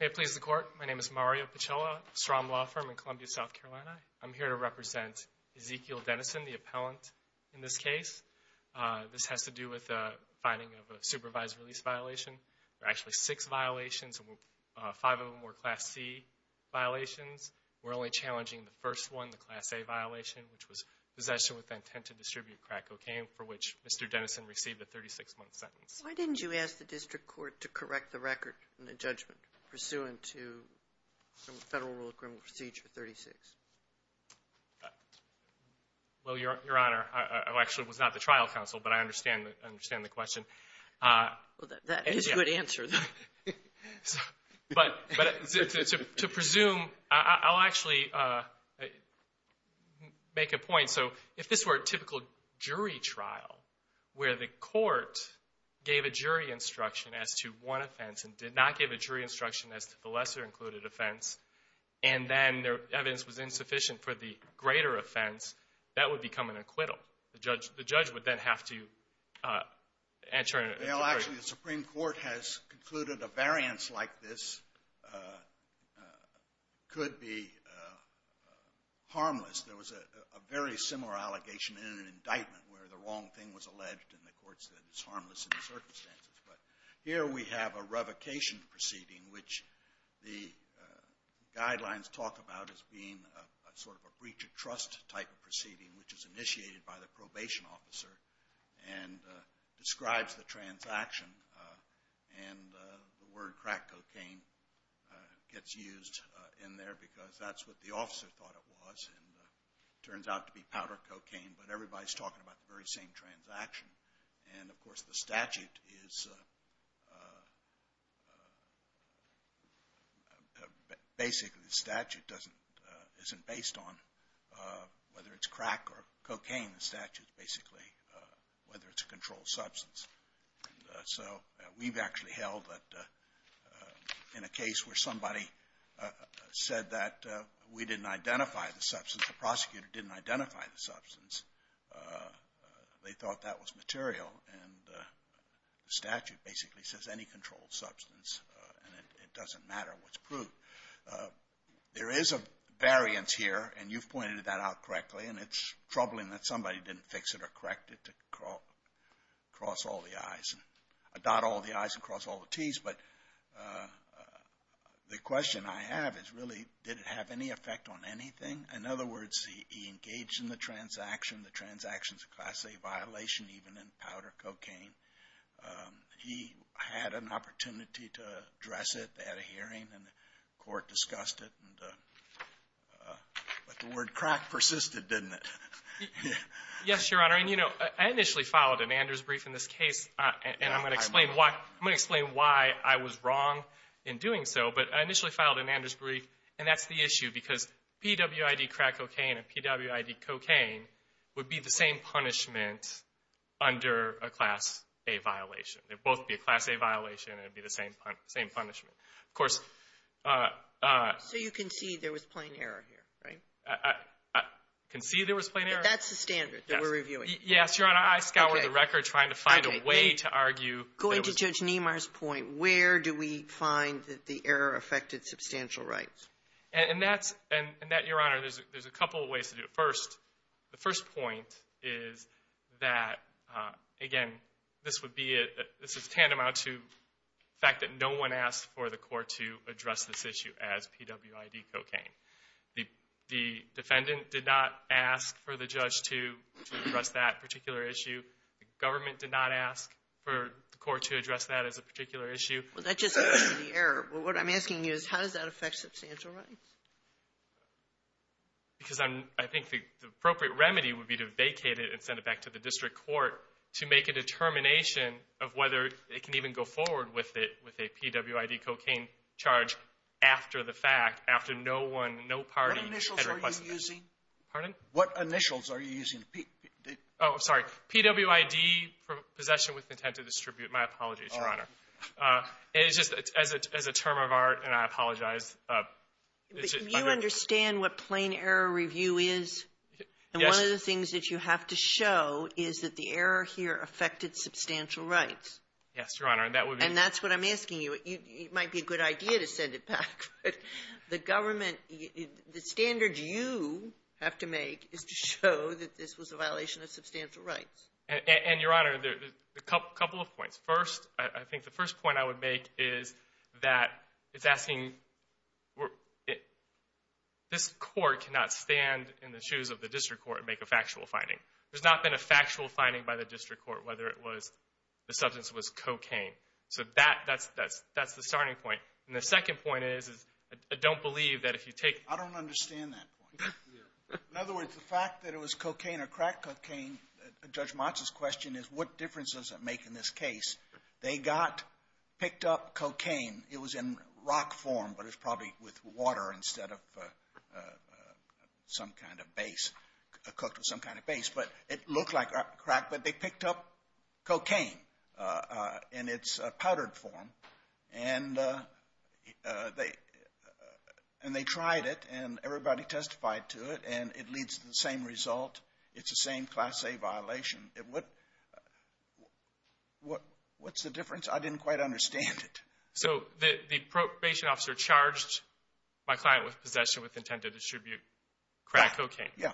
May it please the court, my name is Mario Pichella, SROM law firm in Columbia, South Carolina. I'm here to represent Ezekiel Dennison, the appellant in this case. This has to do with the finding of a supervised release violation. There are actually six violations and five of them were Class C violations. We're only challenging the first one, the Class A violation, which was possession with intent to distribute crack cocaine, for which Mr. Dennison received a 36-month sentence. Sotomayor Why didn't you ask the district court to correct the record in the judgment pursuant to Federal Rule of Criminal Procedure 36? Ezekiel Dennison Well, Your Honor, I actually was not the trial counsel, but I understand the question. Sotomayor Well, that is a good answer, though. Ezekiel Dennison But to presume, I'll actually make a point. So if this were a typical jury trial where the court gave a jury instruction as to one offense and did not give a jury instruction as to the lesser-included offense, and then their evidence was insufficient for the greater offense, that would become an acquittal. The judge would then have to enter an acquittal. Sotomayor Well, actually, the Supreme Court has concluded a variance like this could be where the wrong thing was alleged, and the court said it's harmless in the circumstances. But here we have a revocation proceeding, which the guidelines talk about as being sort of a breach of trust type of proceeding, which is initiated by the probation officer and describes the transaction. And the word crack cocaine gets used in there because that's what the officer thought it was, and it turns out to be powder cocaine. But everybody's talking about the very same transaction. And, of course, the statute is – basically, the statute doesn't – isn't based on whether it's crack or cocaine. The statute's basically whether it's a controlled substance. So we've actually held that in a case where somebody said that we didn't identify the substance. The prosecutor didn't identify the substance. They thought that was material. And the statute basically says any controlled substance, and it doesn't matter what's proved. There is a variance here, and you've pointed that out correctly, and it's troubling that somebody didn't fix it or correct it to cross all the I's – dot all the I's and cross all the T's. But the question I have is, really, did it have any effect on anything? In other words, he engaged in the transaction. The transaction's a Class A violation, even in powder cocaine. He had an opportunity to address it at a hearing, and the court discussed it. But the word crack persisted, didn't it? Yes, Your Honor. And, you know, I initially followed Amanda's brief in this case, and I'm going to explain why I was wrong in doing so. But I initially filed an Amanda's brief, and that's the issue, because PWID crack cocaine and PWID cocaine would be the same punishment under a Class A violation. They'd both be a Class A violation, and it'd be the same punishment. Of course – So you concede there was plain error here, right? I concede there was plain error. But that's the standard that we're reviewing. Yes, Your Honor. I scoured the record trying to find a way to argue – Going to Judge Niemeyer's point, where do we find that the error affected substantial rights? And that, Your Honor, there's a couple of ways to do it. First, the first point is that, again, this would be a – this is a tandem out to the fact that no one asked for the court to address this issue as PWID cocaine. The defendant did not ask for the judge to address that particular issue. The government did not ask for the court to address that as a particular issue. Well, that just leads to the error. But what I'm asking you is, how does that affect substantial rights? Because I'm – I think the appropriate remedy would be to vacate it and send it back to the district court to make a determination of whether it can even go forward with it with a PWID cocaine charge after the fact, after no one, no party – What initials are you using? Pardon? What initials are you using? Oh, sorry. PWID, Possession with Intent to Distribute. My apologies, Your Honor. All right. And it's just as a term of art, and I apologize. But you understand what plain error review is? Yes. And one of the things that you have to show is that the error here affected substantial rights. Yes, Your Honor, and that would be – And that's what I'm asking you. It might be a good idea to send it back, but the government – the standard you have to make is to show that this was a violation of substantial rights. And, Your Honor, a couple of points. First, I think the first point I would make is that it's asking – this court cannot stand in the shoes of the district court and make a factual finding. There's not been a factual finding by the district court whether it was – the substance was cocaine. So that's the starting point. And the second point is I don't believe that if you take – I don't understand that point. In other words, the fact that it was cocaine or crack cocaine, Judge Motz's question is what difference does it make in this case? They got – picked up cocaine. It was in rock form, but it was probably with water instead of some kind of base, cooked with some kind of base. But it looked like crack, but they picked up cocaine in its powdered form, and they tried it, and everybody testified to it, and it leads to the same result. It's the same Class A violation. What's the difference? I didn't quite understand it. So the probation officer charged my client with possession with intent to distribute crack cocaine. Yeah.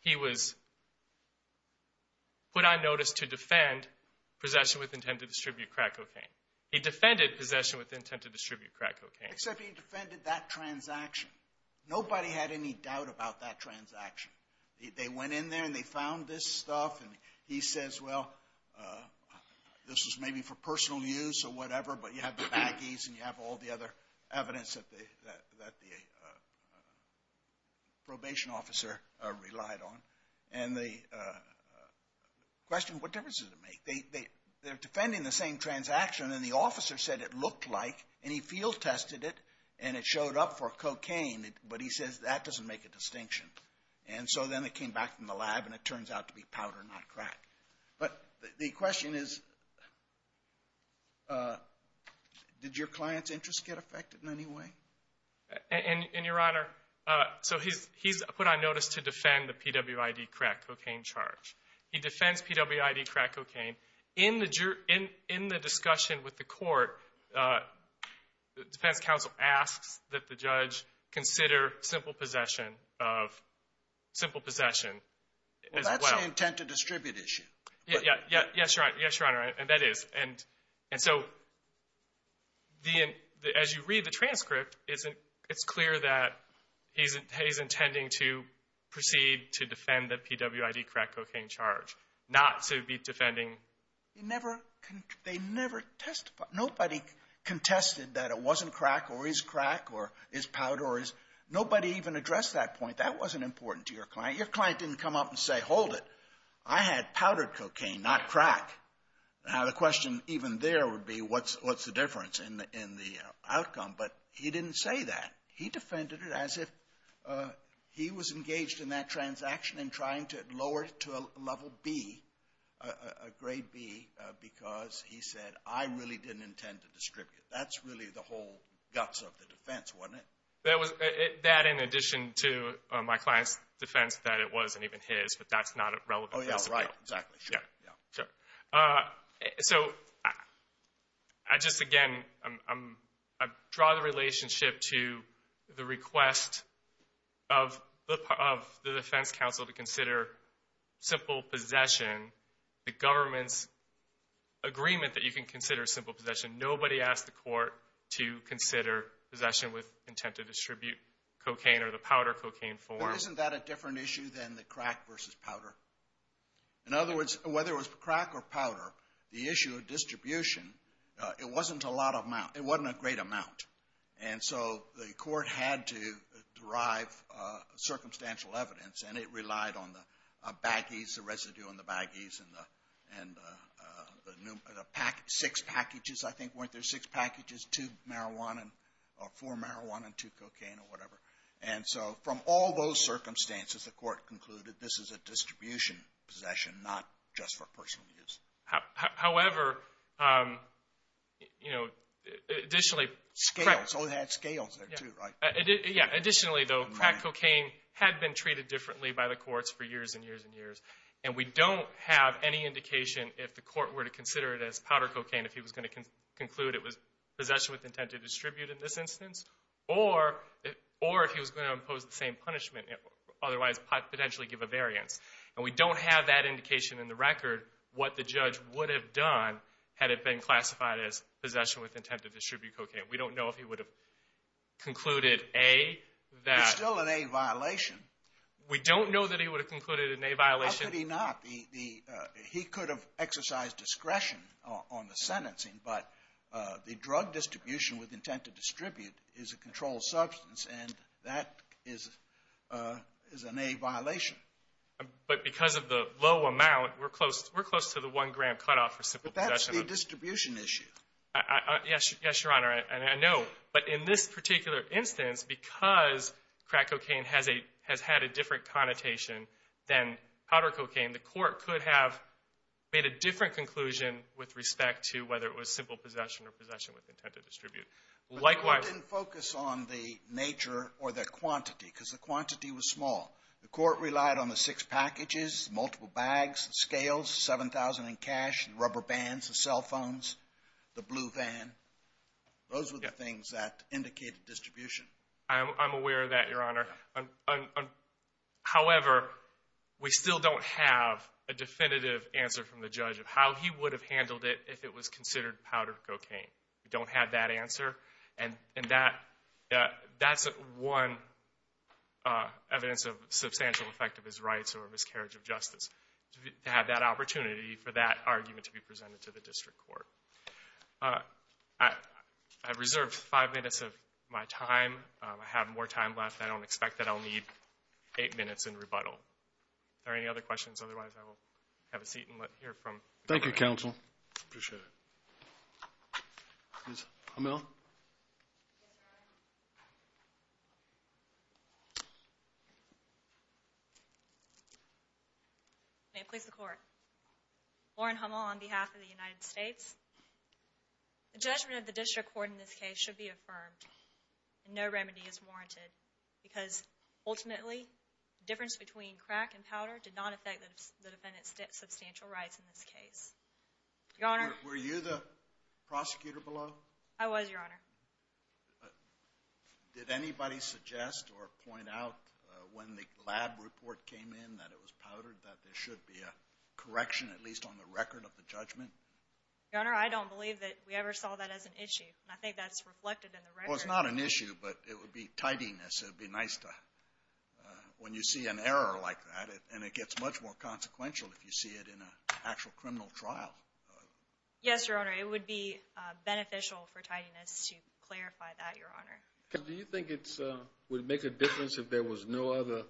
He was put on notice to defend possession with intent to distribute crack cocaine. He defended possession with intent to distribute crack cocaine. Except he defended that transaction. Nobody had any doubt about that transaction. They went in there, and they found this stuff, and he says, well, this is maybe for personal use or whatever, but you have the baggies, and you have all the other evidence that the probation officer relied on. And the question, what difference does it make? They're defending the same transaction, and the officer said it looked like, and he field tested it, and it showed up for cocaine, but he says that doesn't make a distinction. And so then they came back from the lab, and it turns out to be powder, not crack. But the question is, did your client's interest get affected in any way? And, Your Honor, so he's put on notice to defend the PWID crack cocaine charge. He defends PWID crack cocaine. In the discussion with the court, the defense counsel asks that the judge consider simple possession of simple possession as well. That's the intent to distribute issue. Yes, Your Honor, and that is. And so as you read the transcript, it's clear that he's intending to proceed to defend the PWID crack cocaine charge, not to be defending. They never testified. Nobody contested that it wasn't crack or is crack or is powder. Nobody even addressed that point. That wasn't important to your client. Your client didn't come up and say, hold it. I had powdered cocaine, not crack. Now, the question even there would be, what's the difference in the outcome? But he didn't say that. He defended it as if he was engaged in that transaction and trying to lower it to a level B, a grade B, because he said, I really didn't intend to distribute. That's really the whole guts of the defense, wasn't it? That in addition to my client's defense that it wasn't even his, but that's not a relevant principle. Oh, yeah. Right. Exactly. Sure. Yeah. Sure. So I just, again, I draw the relationship to the request of the defense counsel to consider simple possession, the government's agreement that you can consider simple possession. Nobody asked the court to consider possession with intent to distribute cocaine or the powder cocaine form. Isn't that a different issue than the crack versus powder? In other words, whether it was crack or powder, the issue of distribution, it wasn't a lot of amount. It wasn't a great amount. And so the court had to derive circumstantial evidence, and it relied on the baggies, the residue on the baggies, and the six packages, I think, weren't there? Six packages, two marijuana or four marijuana and two cocaine or whatever. And so from all those circumstances, the court concluded this is a distribution possession, not just for personal use. However, you know, additionally. Scales. Oh, they had scales there, too, right? Yeah. Additionally, though, crack cocaine had been treated differently by the courts for years and years and years, and we don't have any indication if the court were to consider it as powder cocaine if he was going to conclude it was possession with intent to distribute in this instance or if he was going to impose the same punishment, otherwise potentially give a variance. And we don't have that indication in the record what the judge would have done had it been classified as concluded A, that. It's still an A violation. We don't know that he would have concluded an A violation. How could he not? He could have exercised discretion on the sentencing, but the drug distribution with intent to distribute is a controlled substance, and that is an A violation. But because of the low amount, we're close to the one-gram cutoff for simple possession. But that's the distribution issue. Yes, Your Honor, and I know. But in this particular instance, because crack cocaine has had a different connotation than powder cocaine, the court could have made a different conclusion with respect to whether it was simple possession or possession with intent to distribute. But the court didn't focus on the nature or the quantity because the quantity was small. The court relied on the six packages, the multiple bags, the scales, the 7,000 in cash, the rubber bands, the cell phones, the blue van. Those were the things that indicated distribution. I'm aware of that, Your Honor. However, we still don't have a definitive answer from the judge of how he would have handled it if it was considered powder cocaine. We don't have that answer, and that's one evidence of substantial effect of his rights or miscarriage of justice to have that opportunity for that argument to be presented to the district court. I've reserved five minutes of my time. I have more time left. I don't expect that I'll need eight minutes in rebuttal. Are there any other questions? Otherwise, I will have a seat and let you hear from the jury. Thank you, counsel. I appreciate it. Ms. Hamel. Yes, Your Honor. May it please the Court. Lauren Hamel on behalf of the United States. The judgment of the district court in this case should be affirmed. No remedy is warranted because, ultimately, the difference between crack and powder did not affect the defendant's substantial rights in this case. Your Honor. Were you the prosecutor below? I was, Your Honor. Did anybody suggest or point out when the lab report came in that it was powdered, that there should be a correction, at least on the record of the judgment? Your Honor, I don't believe that we ever saw that as an issue. I think that's reflected in the record. Well, it's not an issue, but it would be tidiness. It would be nice to, when you see an error like that, and it gets much more consequential if you see it in an actual criminal trial. Yes, Your Honor. It would be beneficial for tidiness to clarify that, Your Honor. Do you think it would make a difference if there was no other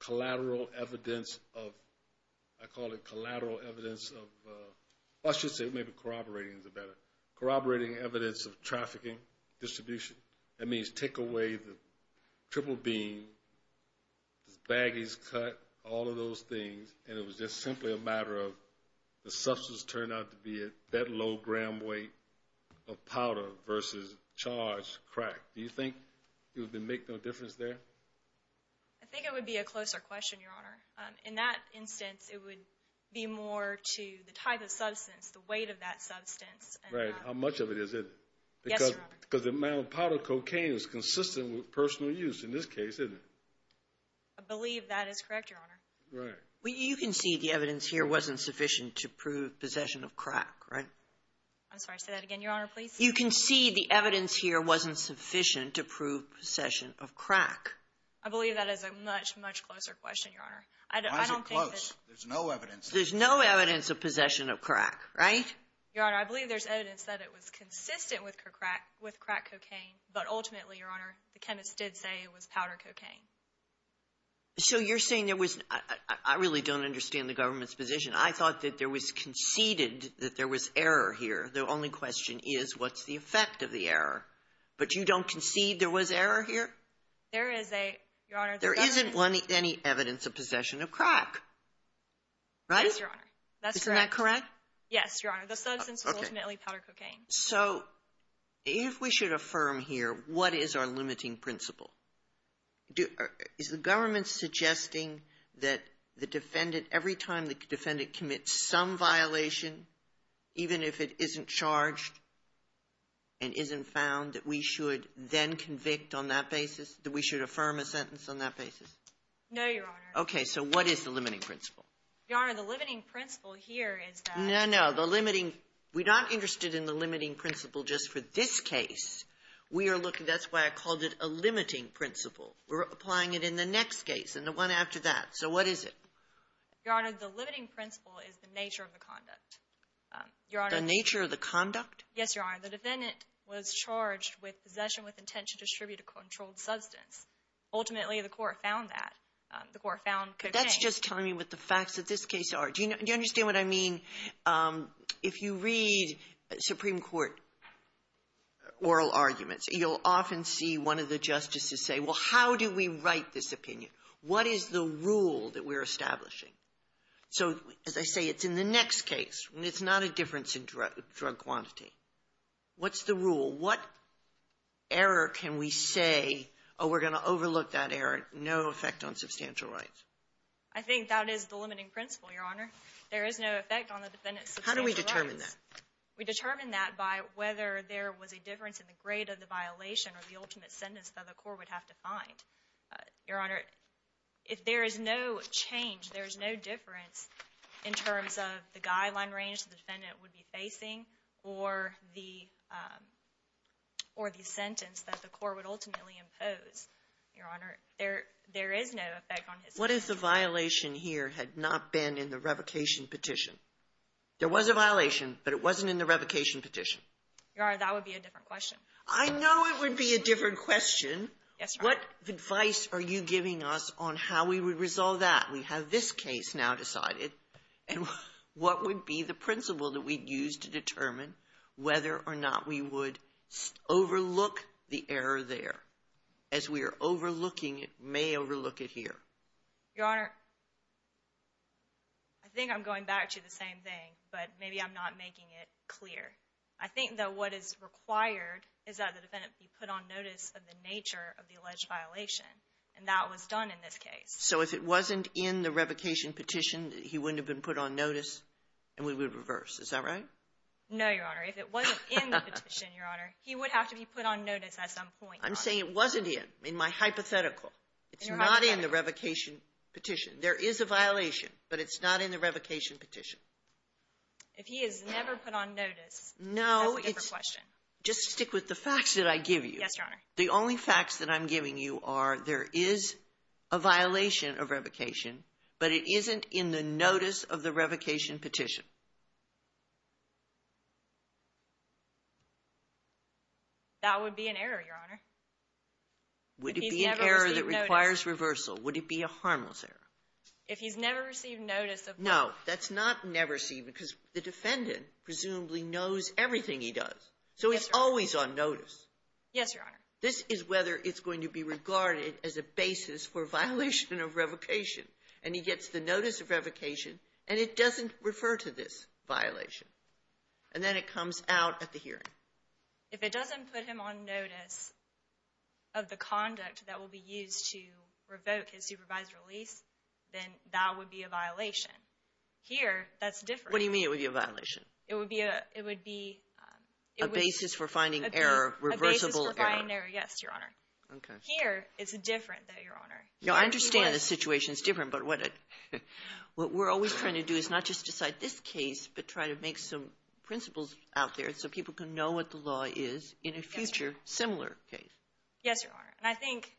collateral evidence of, I call it collateral evidence of, I should say maybe corroborating is better, corroborating evidence of trafficking distribution. That means take away the triple bean, the baggies cut, all of those things, and it was just simply a matter of the substance turned out to be at that low gram weight of powder versus charged crack. Do you think it would make no difference there? I think it would be a closer question, Your Honor. In that instance, it would be more to the type of substance, the weight of that substance. Right. How much of it is it? Yes, Your Honor. Because the amount of powdered cocaine is consistent with personal use in this case, isn't it? I believe that is correct, Your Honor. Right. You can see the evidence here wasn't sufficient to prove possession of crack, right? I'm sorry, say that again, Your Honor, please. You can see the evidence here wasn't sufficient to prove possession of crack. I believe that is a much, much closer question, Your Honor. Why is it close? There's no evidence. There's no evidence of possession of crack, right? Your Honor, I believe there's evidence that it was consistent with crack cocaine, but ultimately, Your Honor, the chemists did say it was powder cocaine. So you're saying there was — I really don't understand the government's position. I thought that there was conceded that there was error here. The only question is what's the effect of the error. But you don't concede there was error here? There is a, Your Honor — There isn't any evidence of possession of crack, right? Yes, Your Honor. Isn't that correct? Yes, Your Honor. The substance was ultimately powder cocaine. So if we should affirm here, what is our limiting principle? Is the government suggesting that the defendant, every time the defendant commits some violation, even if it isn't charged and isn't found, that we should then convict on that basis? That we should affirm a sentence on that basis? No, Your Honor. Okay. So what is the limiting principle? Your Honor, the limiting principle here is that — No, no. The limiting — we're not interested in the limiting principle just for this case. We are looking — that's why I called it a limiting principle. We're applying it in the next case and the one after that. So what is it? Your Honor, the limiting principle is the nature of the conduct. Your Honor — The nature of the conduct? Yes, Your Honor. The defendant was charged with possession with intent to distribute a controlled substance. Ultimately, the court found that. The court found cocaine — But that's just telling me what the facts of this case are. Do you understand what I mean? If you read Supreme Court oral arguments, you'll often see one of the justices say, well, how do we write this opinion? What is the rule that we're establishing? So as I say, it's in the next case. It's not a difference in drug quantity. What's the rule? What error can we say, oh, we're going to overlook that error, no effect on substantial rights? I think that is the limiting principle, Your Honor. There is no effect on the defendant's substantial rights. How do we determine that? We determine that by whether there was a difference in the grade of the violation or the ultimate sentence that the court would have to find. Your Honor, if there is no change, there is no difference in terms of the guideline range the defendant would be facing or the sentence that the court would ultimately impose, Your Honor. There is no effect on his — What if the violation here had not been in the revocation petition? There was a violation, but it wasn't in the revocation petition. Your Honor, that would be a different question. I know it would be a different question. Yes, Your Honor. What advice are you giving us on how we would resolve that? We have this case now decided, and what would be the principle that we'd use to determine whether or not we would overlook the error there as we are overlooking it here? Your Honor, I think I'm going back to the same thing, but maybe I'm not making it clear. I think, though, what is required is that the defendant be put on notice of the nature of the alleged violation, and that was done in this case. So if it wasn't in the revocation petition, he wouldn't have been put on notice and we would reverse. Is that right? No, Your Honor. If it wasn't in the petition, Your Honor, he would have to be put on notice at some point. I'm saying it wasn't in, in my hypothetical. It's not in the revocation petition. There is a violation, but it's not in the revocation petition. If he is never put on notice, that's a different question. No, just stick with the facts that I give you. Yes, Your Honor. The only facts that I'm giving you are there is a violation of revocation, but it isn't in the notice of the revocation petition. That would be an error, Your Honor. Would it be an error that requires reversal? Would it be a harmless error? If he's never received notice of that. No, that's not never received because the defendant presumably knows everything he does. Yes, Your Honor. So he's always on notice. Yes, Your Honor. This is whether it's going to be regarded as a basis for violation of revocation and he gets the notice of revocation and it doesn't refer to this violation and then it comes out at the hearing. If it doesn't put him on notice of the conduct that will be used to revoke his supervised release, then that would be a violation. Here, that's different. What do you mean it would be a violation? It would be a, it would be. A basis for finding error, reversible error. A basis for finding error. Yes, Your Honor. Okay. Here, it's different though, Your Honor. I understand the situation is different, but what we're always trying to do is not just decide this case, but try to make some principles out there so people can know what the law is in a future similar case. Yes, Your Honor. And I think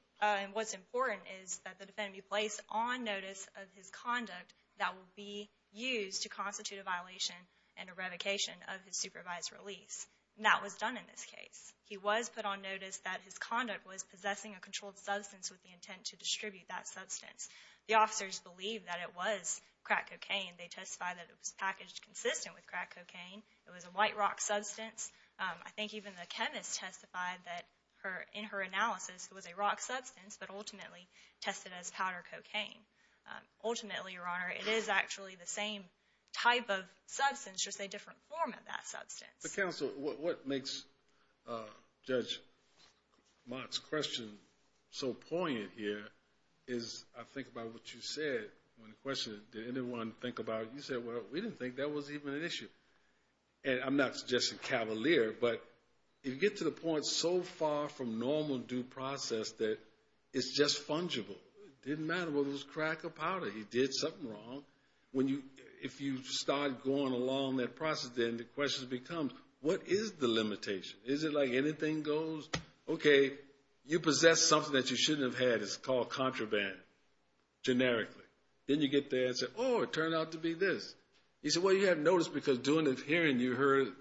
what's important is that the defendant be placed on notice of his conduct that will be used to constitute a violation and a revocation of his supervised release. That was done in this case. He was put on notice that his conduct was possessing a controlled substance with the intent to distribute that substance. The officers believed that it was crack cocaine. They testified that it was packaged consistent with crack cocaine. It was a white rock substance. I think even the chemist testified that in her analysis it was a rock substance, but ultimately tested as powder cocaine. Ultimately, Your Honor, it is actually the same type of substance, just a different form of that substance. Counsel, what makes Judge Mott's question so poignant here is I think about what you said when the question, did anyone think about it? You said, well, we didn't think that was even an issue. And I'm not suggesting cavalier, but you get to the point so far from normal due process that it's just fungible. It didn't matter whether it was crack or powder. He did something wrong. If you start going along that process, then the question becomes, what is the limitation? Is it like anything goes, okay, you possess something that you shouldn't have had. It's called contraband, generically. Then you get the answer, oh, it turned out to be this. You say, well, you didn't notice because during the hearing you heard it.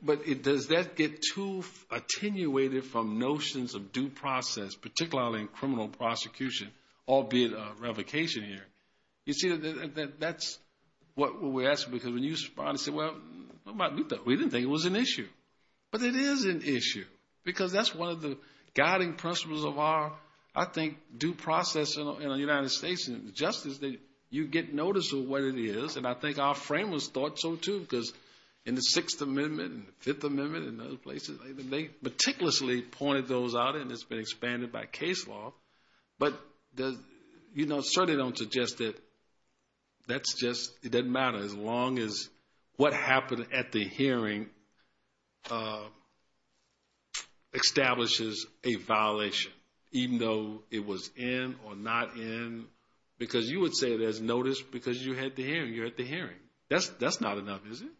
But does that get too attenuated from notions of due process, particularly in criminal prosecution, albeit a revocation hearing? You see, that's what we're asking because when you respond and say, well, we didn't think it was an issue. But it is an issue because that's one of the guiding principles of our, I think, due process in the United States and justice, that you get notice of what it is. And I think our framers thought so too because in the Sixth Amendment and the Fifth Amendment and other places, they meticulously pointed those out and it's been expanded by case law. But certainly don't suggest that that's just, it doesn't matter. As long as what happened at the hearing establishes a violation, even though it was in or not in. Because you would say there's notice because you had the hearing. You had the hearing. That's not enough, is it?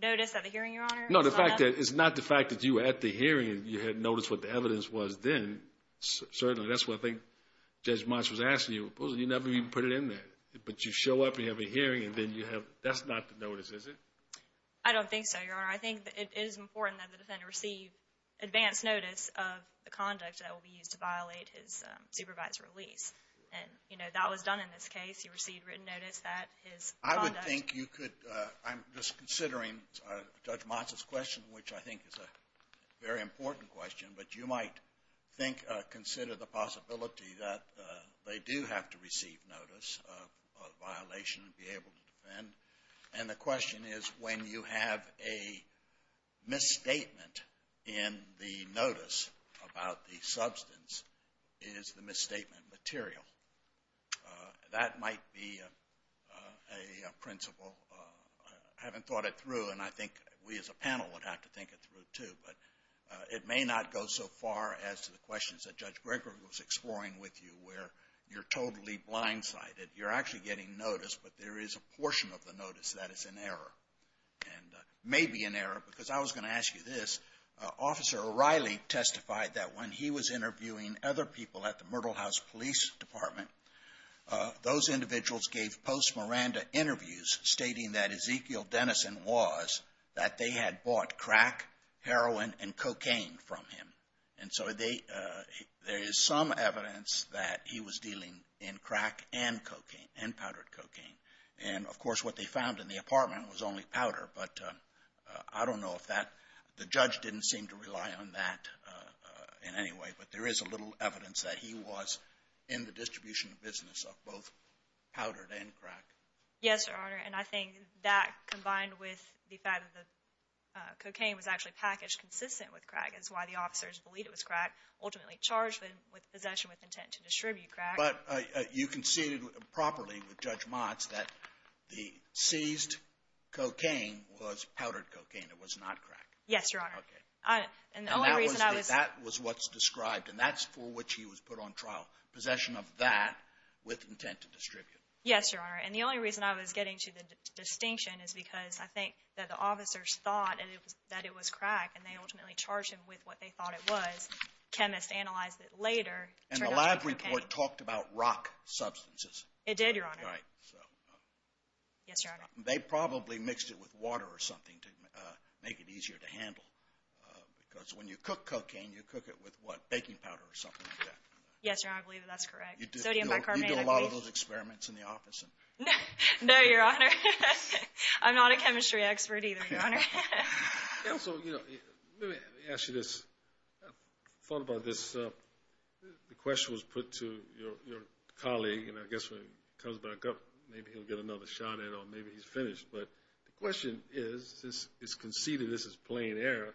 Notice at the hearing, Your Honor? No, it's not the fact that you were at the hearing and you had noticed what the evidence was then. Certainly, that's what I think Judge Motz was asking you. You never even put it in there. But you show up and you have a hearing and then you have, that's not the notice, is it? I don't think so, Your Honor. I think it is important that the defendant receive advance notice of the conduct that will be used to violate his supervised release. And, you know, that was done in this case. He received written notice that his conduct. I would think you could, I'm just considering Judge Motz's question, which I think is a very important question. But you might consider the possibility that they do have to receive notice of violation and be able to defend. And the question is when you have a misstatement in the notice about the substance, is the misstatement material? That might be a principle. I haven't thought it through, and I think we as a panel would have to think it through, too. But it may not go so far as to the questions that Judge Gregory was exploring with you, where you're totally blindsided. You're actually getting notice, but there is a portion of the notice that is in error, and may be in error. Because I was going to ask you this. Officer O'Reilly testified that when he was interviewing other people at the Myrtle House Police Department, those individuals gave post-Miranda interviews stating that Ezekiel Dennison was, that they had bought crack, heroin, and cocaine from him. And so there is some evidence that he was dealing in crack and cocaine, and powdered cocaine. And, of course, what they found in the apartment was only powder. But I don't know if that, the judge didn't seem to rely on that in any way. But there is a little evidence that he was in the distribution business of both powdered and crack. Yes, Your Honor. And I think that combined with the fact that the cocaine was actually packaged consistent with crack is why the officers believed it was crack, ultimately charged him with possession with intent to distribute crack. But you conceded properly with Judge Motz that the seized cocaine was powdered cocaine. It was not crack. Yes, Your Honor. Okay. And the only reason I was – And that was what's described, and that's for which he was put on trial, possession of that with intent to distribute. Yes, Your Honor. And the only reason I was getting to the distinction is because I think that the officers thought that it was crack, and they ultimately charged him with what they thought it was. Chemists analyzed it later. And the lab report talked about rock substances. It did, Your Honor. Right. Yes, Your Honor. They probably mixed it with water or something to make it easier to handle. Because when you cook cocaine, you cook it with what, baking powder or something like that. I believe that that's correct. Sodium bicarbonate, I believe. You do a lot of those experiments in the office. No, Your Honor. I'm not a chemistry expert either, Your Honor. So let me ask you this. I thought about this. The question was put to your colleague, and I guess when he comes back up, maybe he'll get another shot at it or maybe he's finished. But the question is, since it's conceded this is plain error,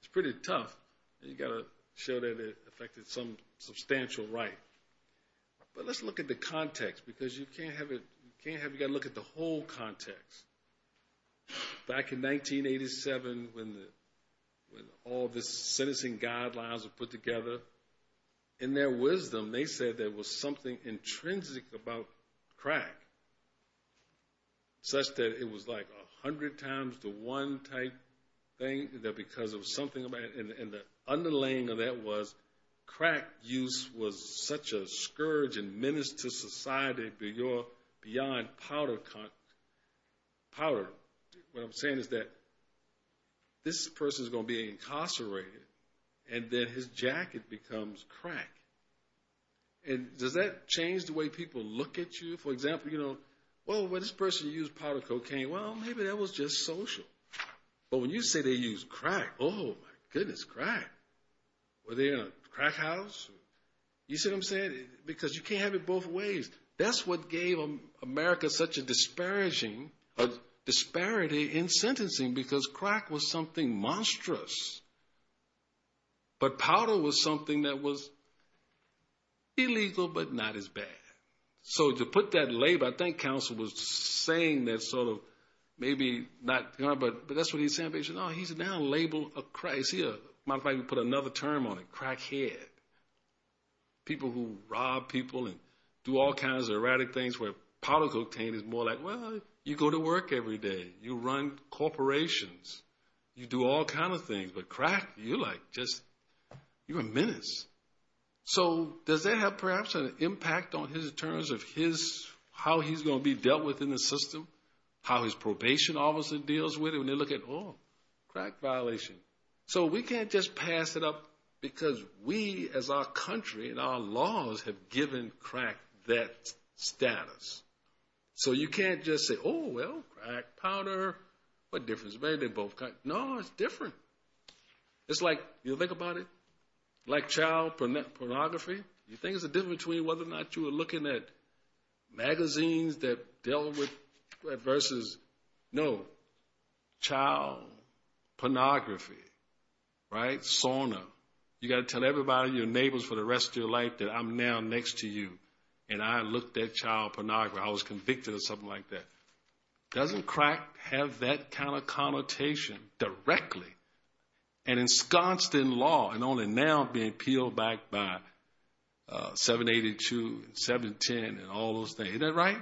it's pretty tough. You've got to show that it affected some substantial right. But let's look at the context. Because you can't have it, you can't have, you've got to look at the whole context. Back in 1987, when all the sentencing guidelines were put together, in their wisdom they said there was something intrinsic about crack, such that it was like 100 times the one type thing, and the underlaying of that was crack use was such a scourge and menace to society beyond powder. What I'm saying is that this person is going to be incarcerated and then his jacket becomes crack. Does that change the way people look at you? For example, well, when this person used powder cocaine, well, maybe that was just social. But when you say they used crack, oh, my goodness, crack. Were they in a crack house? You see what I'm saying? Because you can't have it both ways. That's what gave America such a disparaging disparity in sentencing because crack was something monstrous. But powder was something that was illegal but not as bad. So to put that label, I think counsel was saying that sort of maybe not, but that's what he's saying. He said, oh, he's now labeled a crack. He might as well put another term on it, crackhead. People who rob people and do all kinds of erratic things where powder cocaine is more like, well, you go to work every day. You run corporations. You do all kinds of things. But crack, you're like just a menace. So does that have perhaps an impact on his terms of his, how he's going to be dealt with in the system, how his probation officer deals with it when they look at, oh, crack violation? So we can't just pass it up because we as our country and our laws have given crack that status. So you can't just say, oh, well, crack, powder, what difference? Maybe they both got it. No, it's different. It's like, you think about it, like child pornography, you think there's a difference between whether or not you were looking at magazines that dealt with versus, no, child pornography, right, sauna. You got to tell everybody, your neighbors for the rest of your life, that I'm now next to you, and I looked at child pornography. I was convicted or something like that. Doesn't crack have that kind of connotation directly and ensconced in law and only now being peeled back by 782 and 710 and all those things. Isn't that right?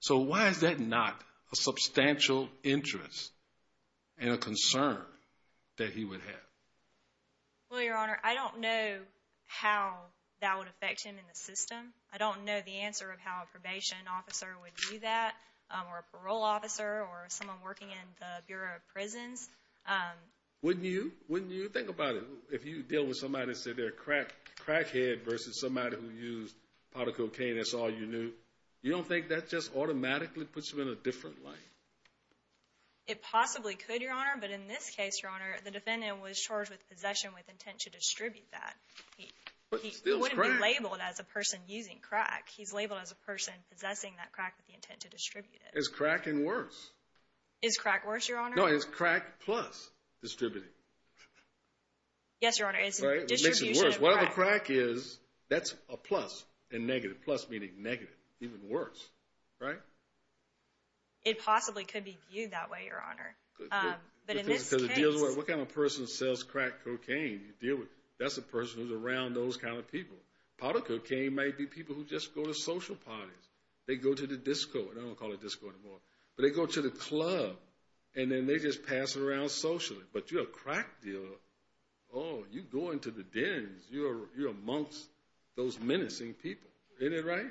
So why is that not a substantial interest and a concern that he would have? Well, Your Honor, I don't know how that would affect him in the system. I don't know the answer of how a probation officer would do that or a parole officer or someone working in the Bureau of Prisons. Wouldn't you? Wouldn't you? Think about it. If you deal with somebody and say they're crackhead versus somebody who used powder cocaine, that's all you knew, you don't think that just automatically puts them in a different light? It possibly could, Your Honor, but in this case, Your Honor, the defendant was charged with possession with intent to distribute that. He wouldn't be labeled as a person using crack. He's labeled as a person possessing that crack with the intent to distribute it. Is crack worse? Is crack worse, Your Honor? No, is crack plus distributing? Yes, Your Honor, it's distribution of crack. Whatever crack is, that's a plus and negative. Plus meaning negative, even worse, right? It possibly could be viewed that way, Your Honor. But in this case. Because it deals with what kind of person sells crack cocaine? That's a person who's around those kind of people. Powder cocaine might be people who just go to social parties. They go to the disco. They don't call it disco anymore. But they go to the club, and then they just pass it around socially. But you're a crack dealer. Oh, you go into the dens. You're amongst those menacing people. Isn't that right?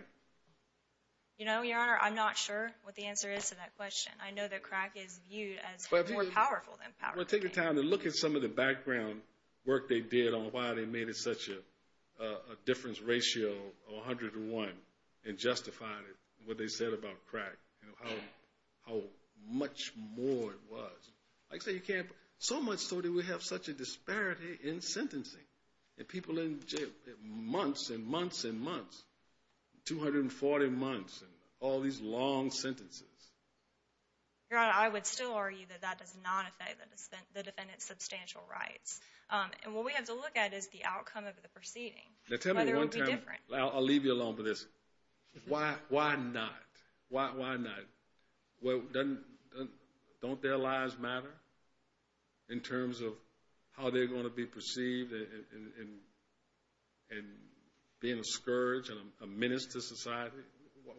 You know, Your Honor, I'm not sure what the answer is to that question. I know that crack is viewed as more powerful than powder cocaine. I'm going to take the time to look at some of the background work they did on why they made it such a difference ratio of 101 and justified it, what they said about crack, how much more it was. So much so that we have such a disparity in sentencing. And people in jail, months and months and months, 240 months, and all these long sentences. Your Honor, I would still argue that that does not affect the defendant's substantial rights. And what we have to look at is the outcome of the proceeding. Tell me one time, I'll leave you alone with this. Why not? Why not? Don't their lives matter in terms of how they're going to be perceived and being discouraged and a menace to society?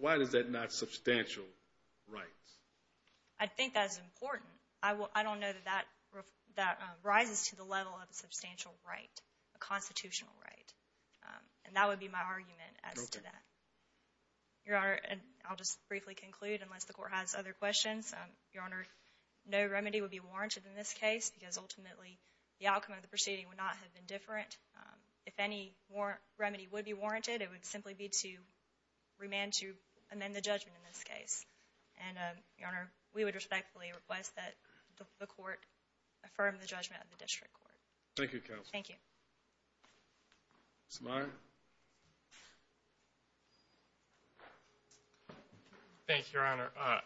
Why is that not substantial rights? I think that's important. I don't know that that rises to the level of a substantial right, a constitutional right. And that would be my argument as to that. Your Honor, I'll just briefly conclude unless the Court has other questions. Your Honor, no remedy would be warranted in this case because ultimately the outcome of the proceeding would not have been different. If any remedy would be warranted, it would simply be to remand to amend the judgment in this case. And, Your Honor, we would respectfully request that the Court affirm the judgment of the District Court. Thank you, counsel. Thank you. Mr. Meyer. Thank you, Your Honor. I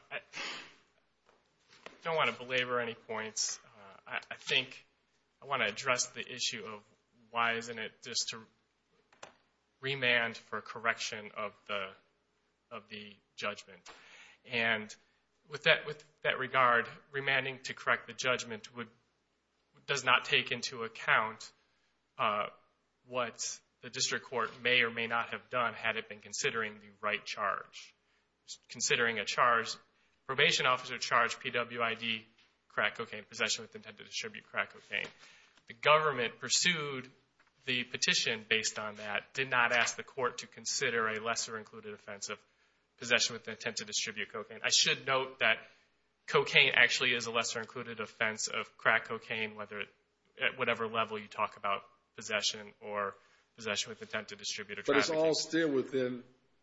don't want to belabor any points. I think I want to address the issue of why isn't it just to remand for correction of the judgment. And with that regard, remanding to correct the judgment does not take into account what the District Court may or may not have done had it been considering the right charge. Considering a charge, probation officer charged PWID crack cocaine possession with intent to distribute crack cocaine. The government pursued the petition based on that, did not ask the Court to consider a lesser-included offense of possession with intent to distribute cocaine. I should note that cocaine actually is a lesser-included offense of crack cocaine, whether at whatever level you talk about possession or possession with intent to distribute or traffic. But it's all still within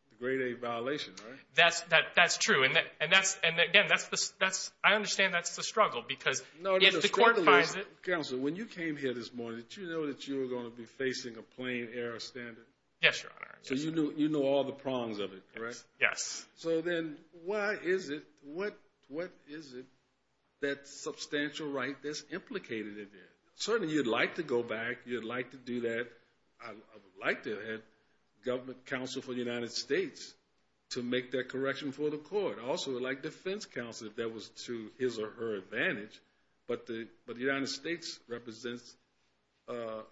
the grade-A violation, right? That's true. And, again, I understand that's the struggle because if the Court finds it. Counsel, when you came here this morning, did you know that you were going to be facing a plain-error standard? Yes, Your Honor. So you knew all the prongs of it, right? Yes. So then why is it, what is it, that substantial right that's implicated in there? Certainly, you'd like to go back, you'd like to do that. I would like to have government counsel for the United States to make that correction for the Court. I also would like defense counsel if that was to his or her advantage. But the United States represents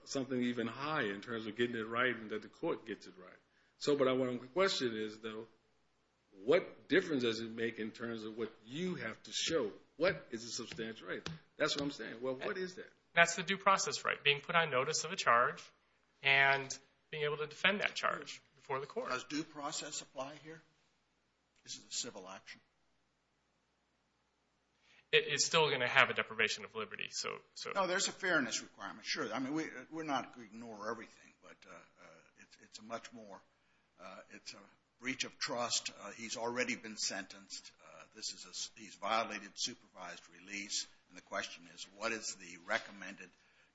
something even higher in terms of getting it right and that the Court gets it right. But my question is, though, what difference does it make in terms of what you have to show? What is a substantial right? That's what I'm saying. Well, what is it? That's the due process right, being put on notice of a charge and being able to defend that charge before the Court. Does due process apply here? This is a civil action. It's still going to have a deprivation of liberty. No, there's a fairness requirement, sure. I mean, we're not going to ignore everything, but it's a much more, it's a breach of trust. He's already been sentenced. This is a, he's violated supervised release. And the question is, what is the recommended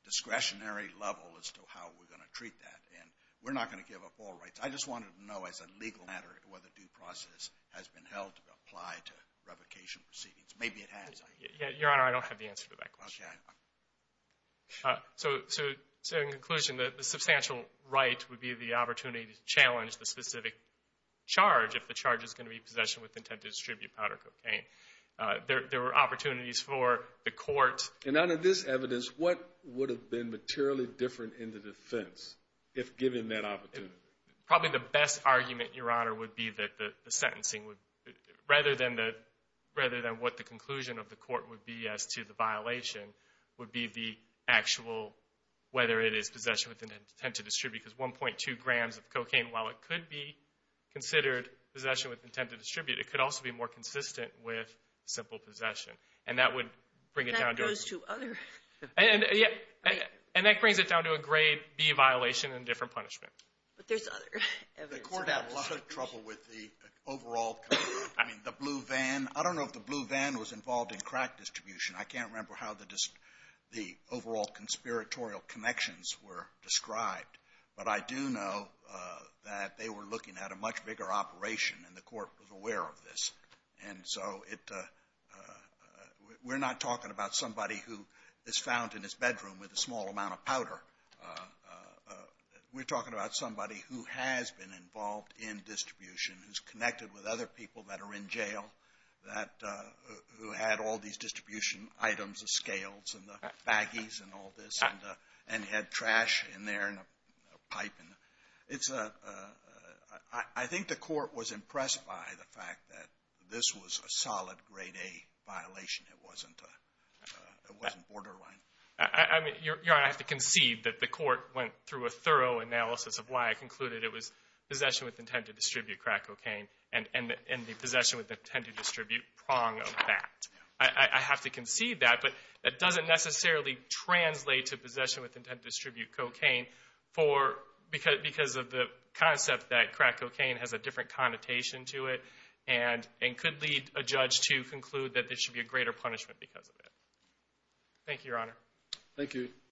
discretionary level as to how we're going to treat that? And we're not going to give up all rights. I just wanted to know as a legal matter whether due process has been held to apply to revocation proceedings. Maybe it has. Your Honor, I don't have the answer to that question. Okay. So, in conclusion, the substantial right would be the opportunity to challenge the specific charge if the charge is going to be possession with intent to distribute powder cocaine. There were opportunities for the Court. And out of this evidence, what would have been materially different in the defense if given that opportunity? Probably the best argument, Your Honor, would be that the sentencing would, rather than what the conclusion of the Court would be as to the violation, would be the actual, whether it is possession with intent to distribute, because 1.2 grams of cocaine, while it could be considered possession with intent to distribute, it could also be more consistent with simple possession. And that would bring it down to a... And that goes to other... And that brings it down to a grade B violation and different punishment. But there's other evidence. The Court had a lot of trouble with the overall, I mean, the blue van. I don't know if the blue van was involved in crack distribution. I can't remember how the overall conspiratorial connections were described. But I do know that they were looking at a much bigger operation, and the Court was aware of this. And so we're not talking about somebody who is found in his bedroom with a small amount of powder. We're talking about somebody who has been involved in distribution, who's connected with other people that are in jail, who had all these distribution items, the scales and the baggies and all this, and had trash in there and a pipe. It's a... I think the Court was impressed by the fact that this was a solid grade A violation. It wasn't borderline. I mean, Your Honor, I have to concede that the Court went through a thorough analysis of why I concluded it was possession with intent to distribute crack cocaine and the possession with intent to distribute prong of that. I have to concede that, but that doesn't necessarily translate to possession with intent to distribute cocaine because of the concept that crack cocaine has a different connotation to it and could lead a judge to conclude that there should be a greater punishment because of it. Thank you, Your Honor. Thank you.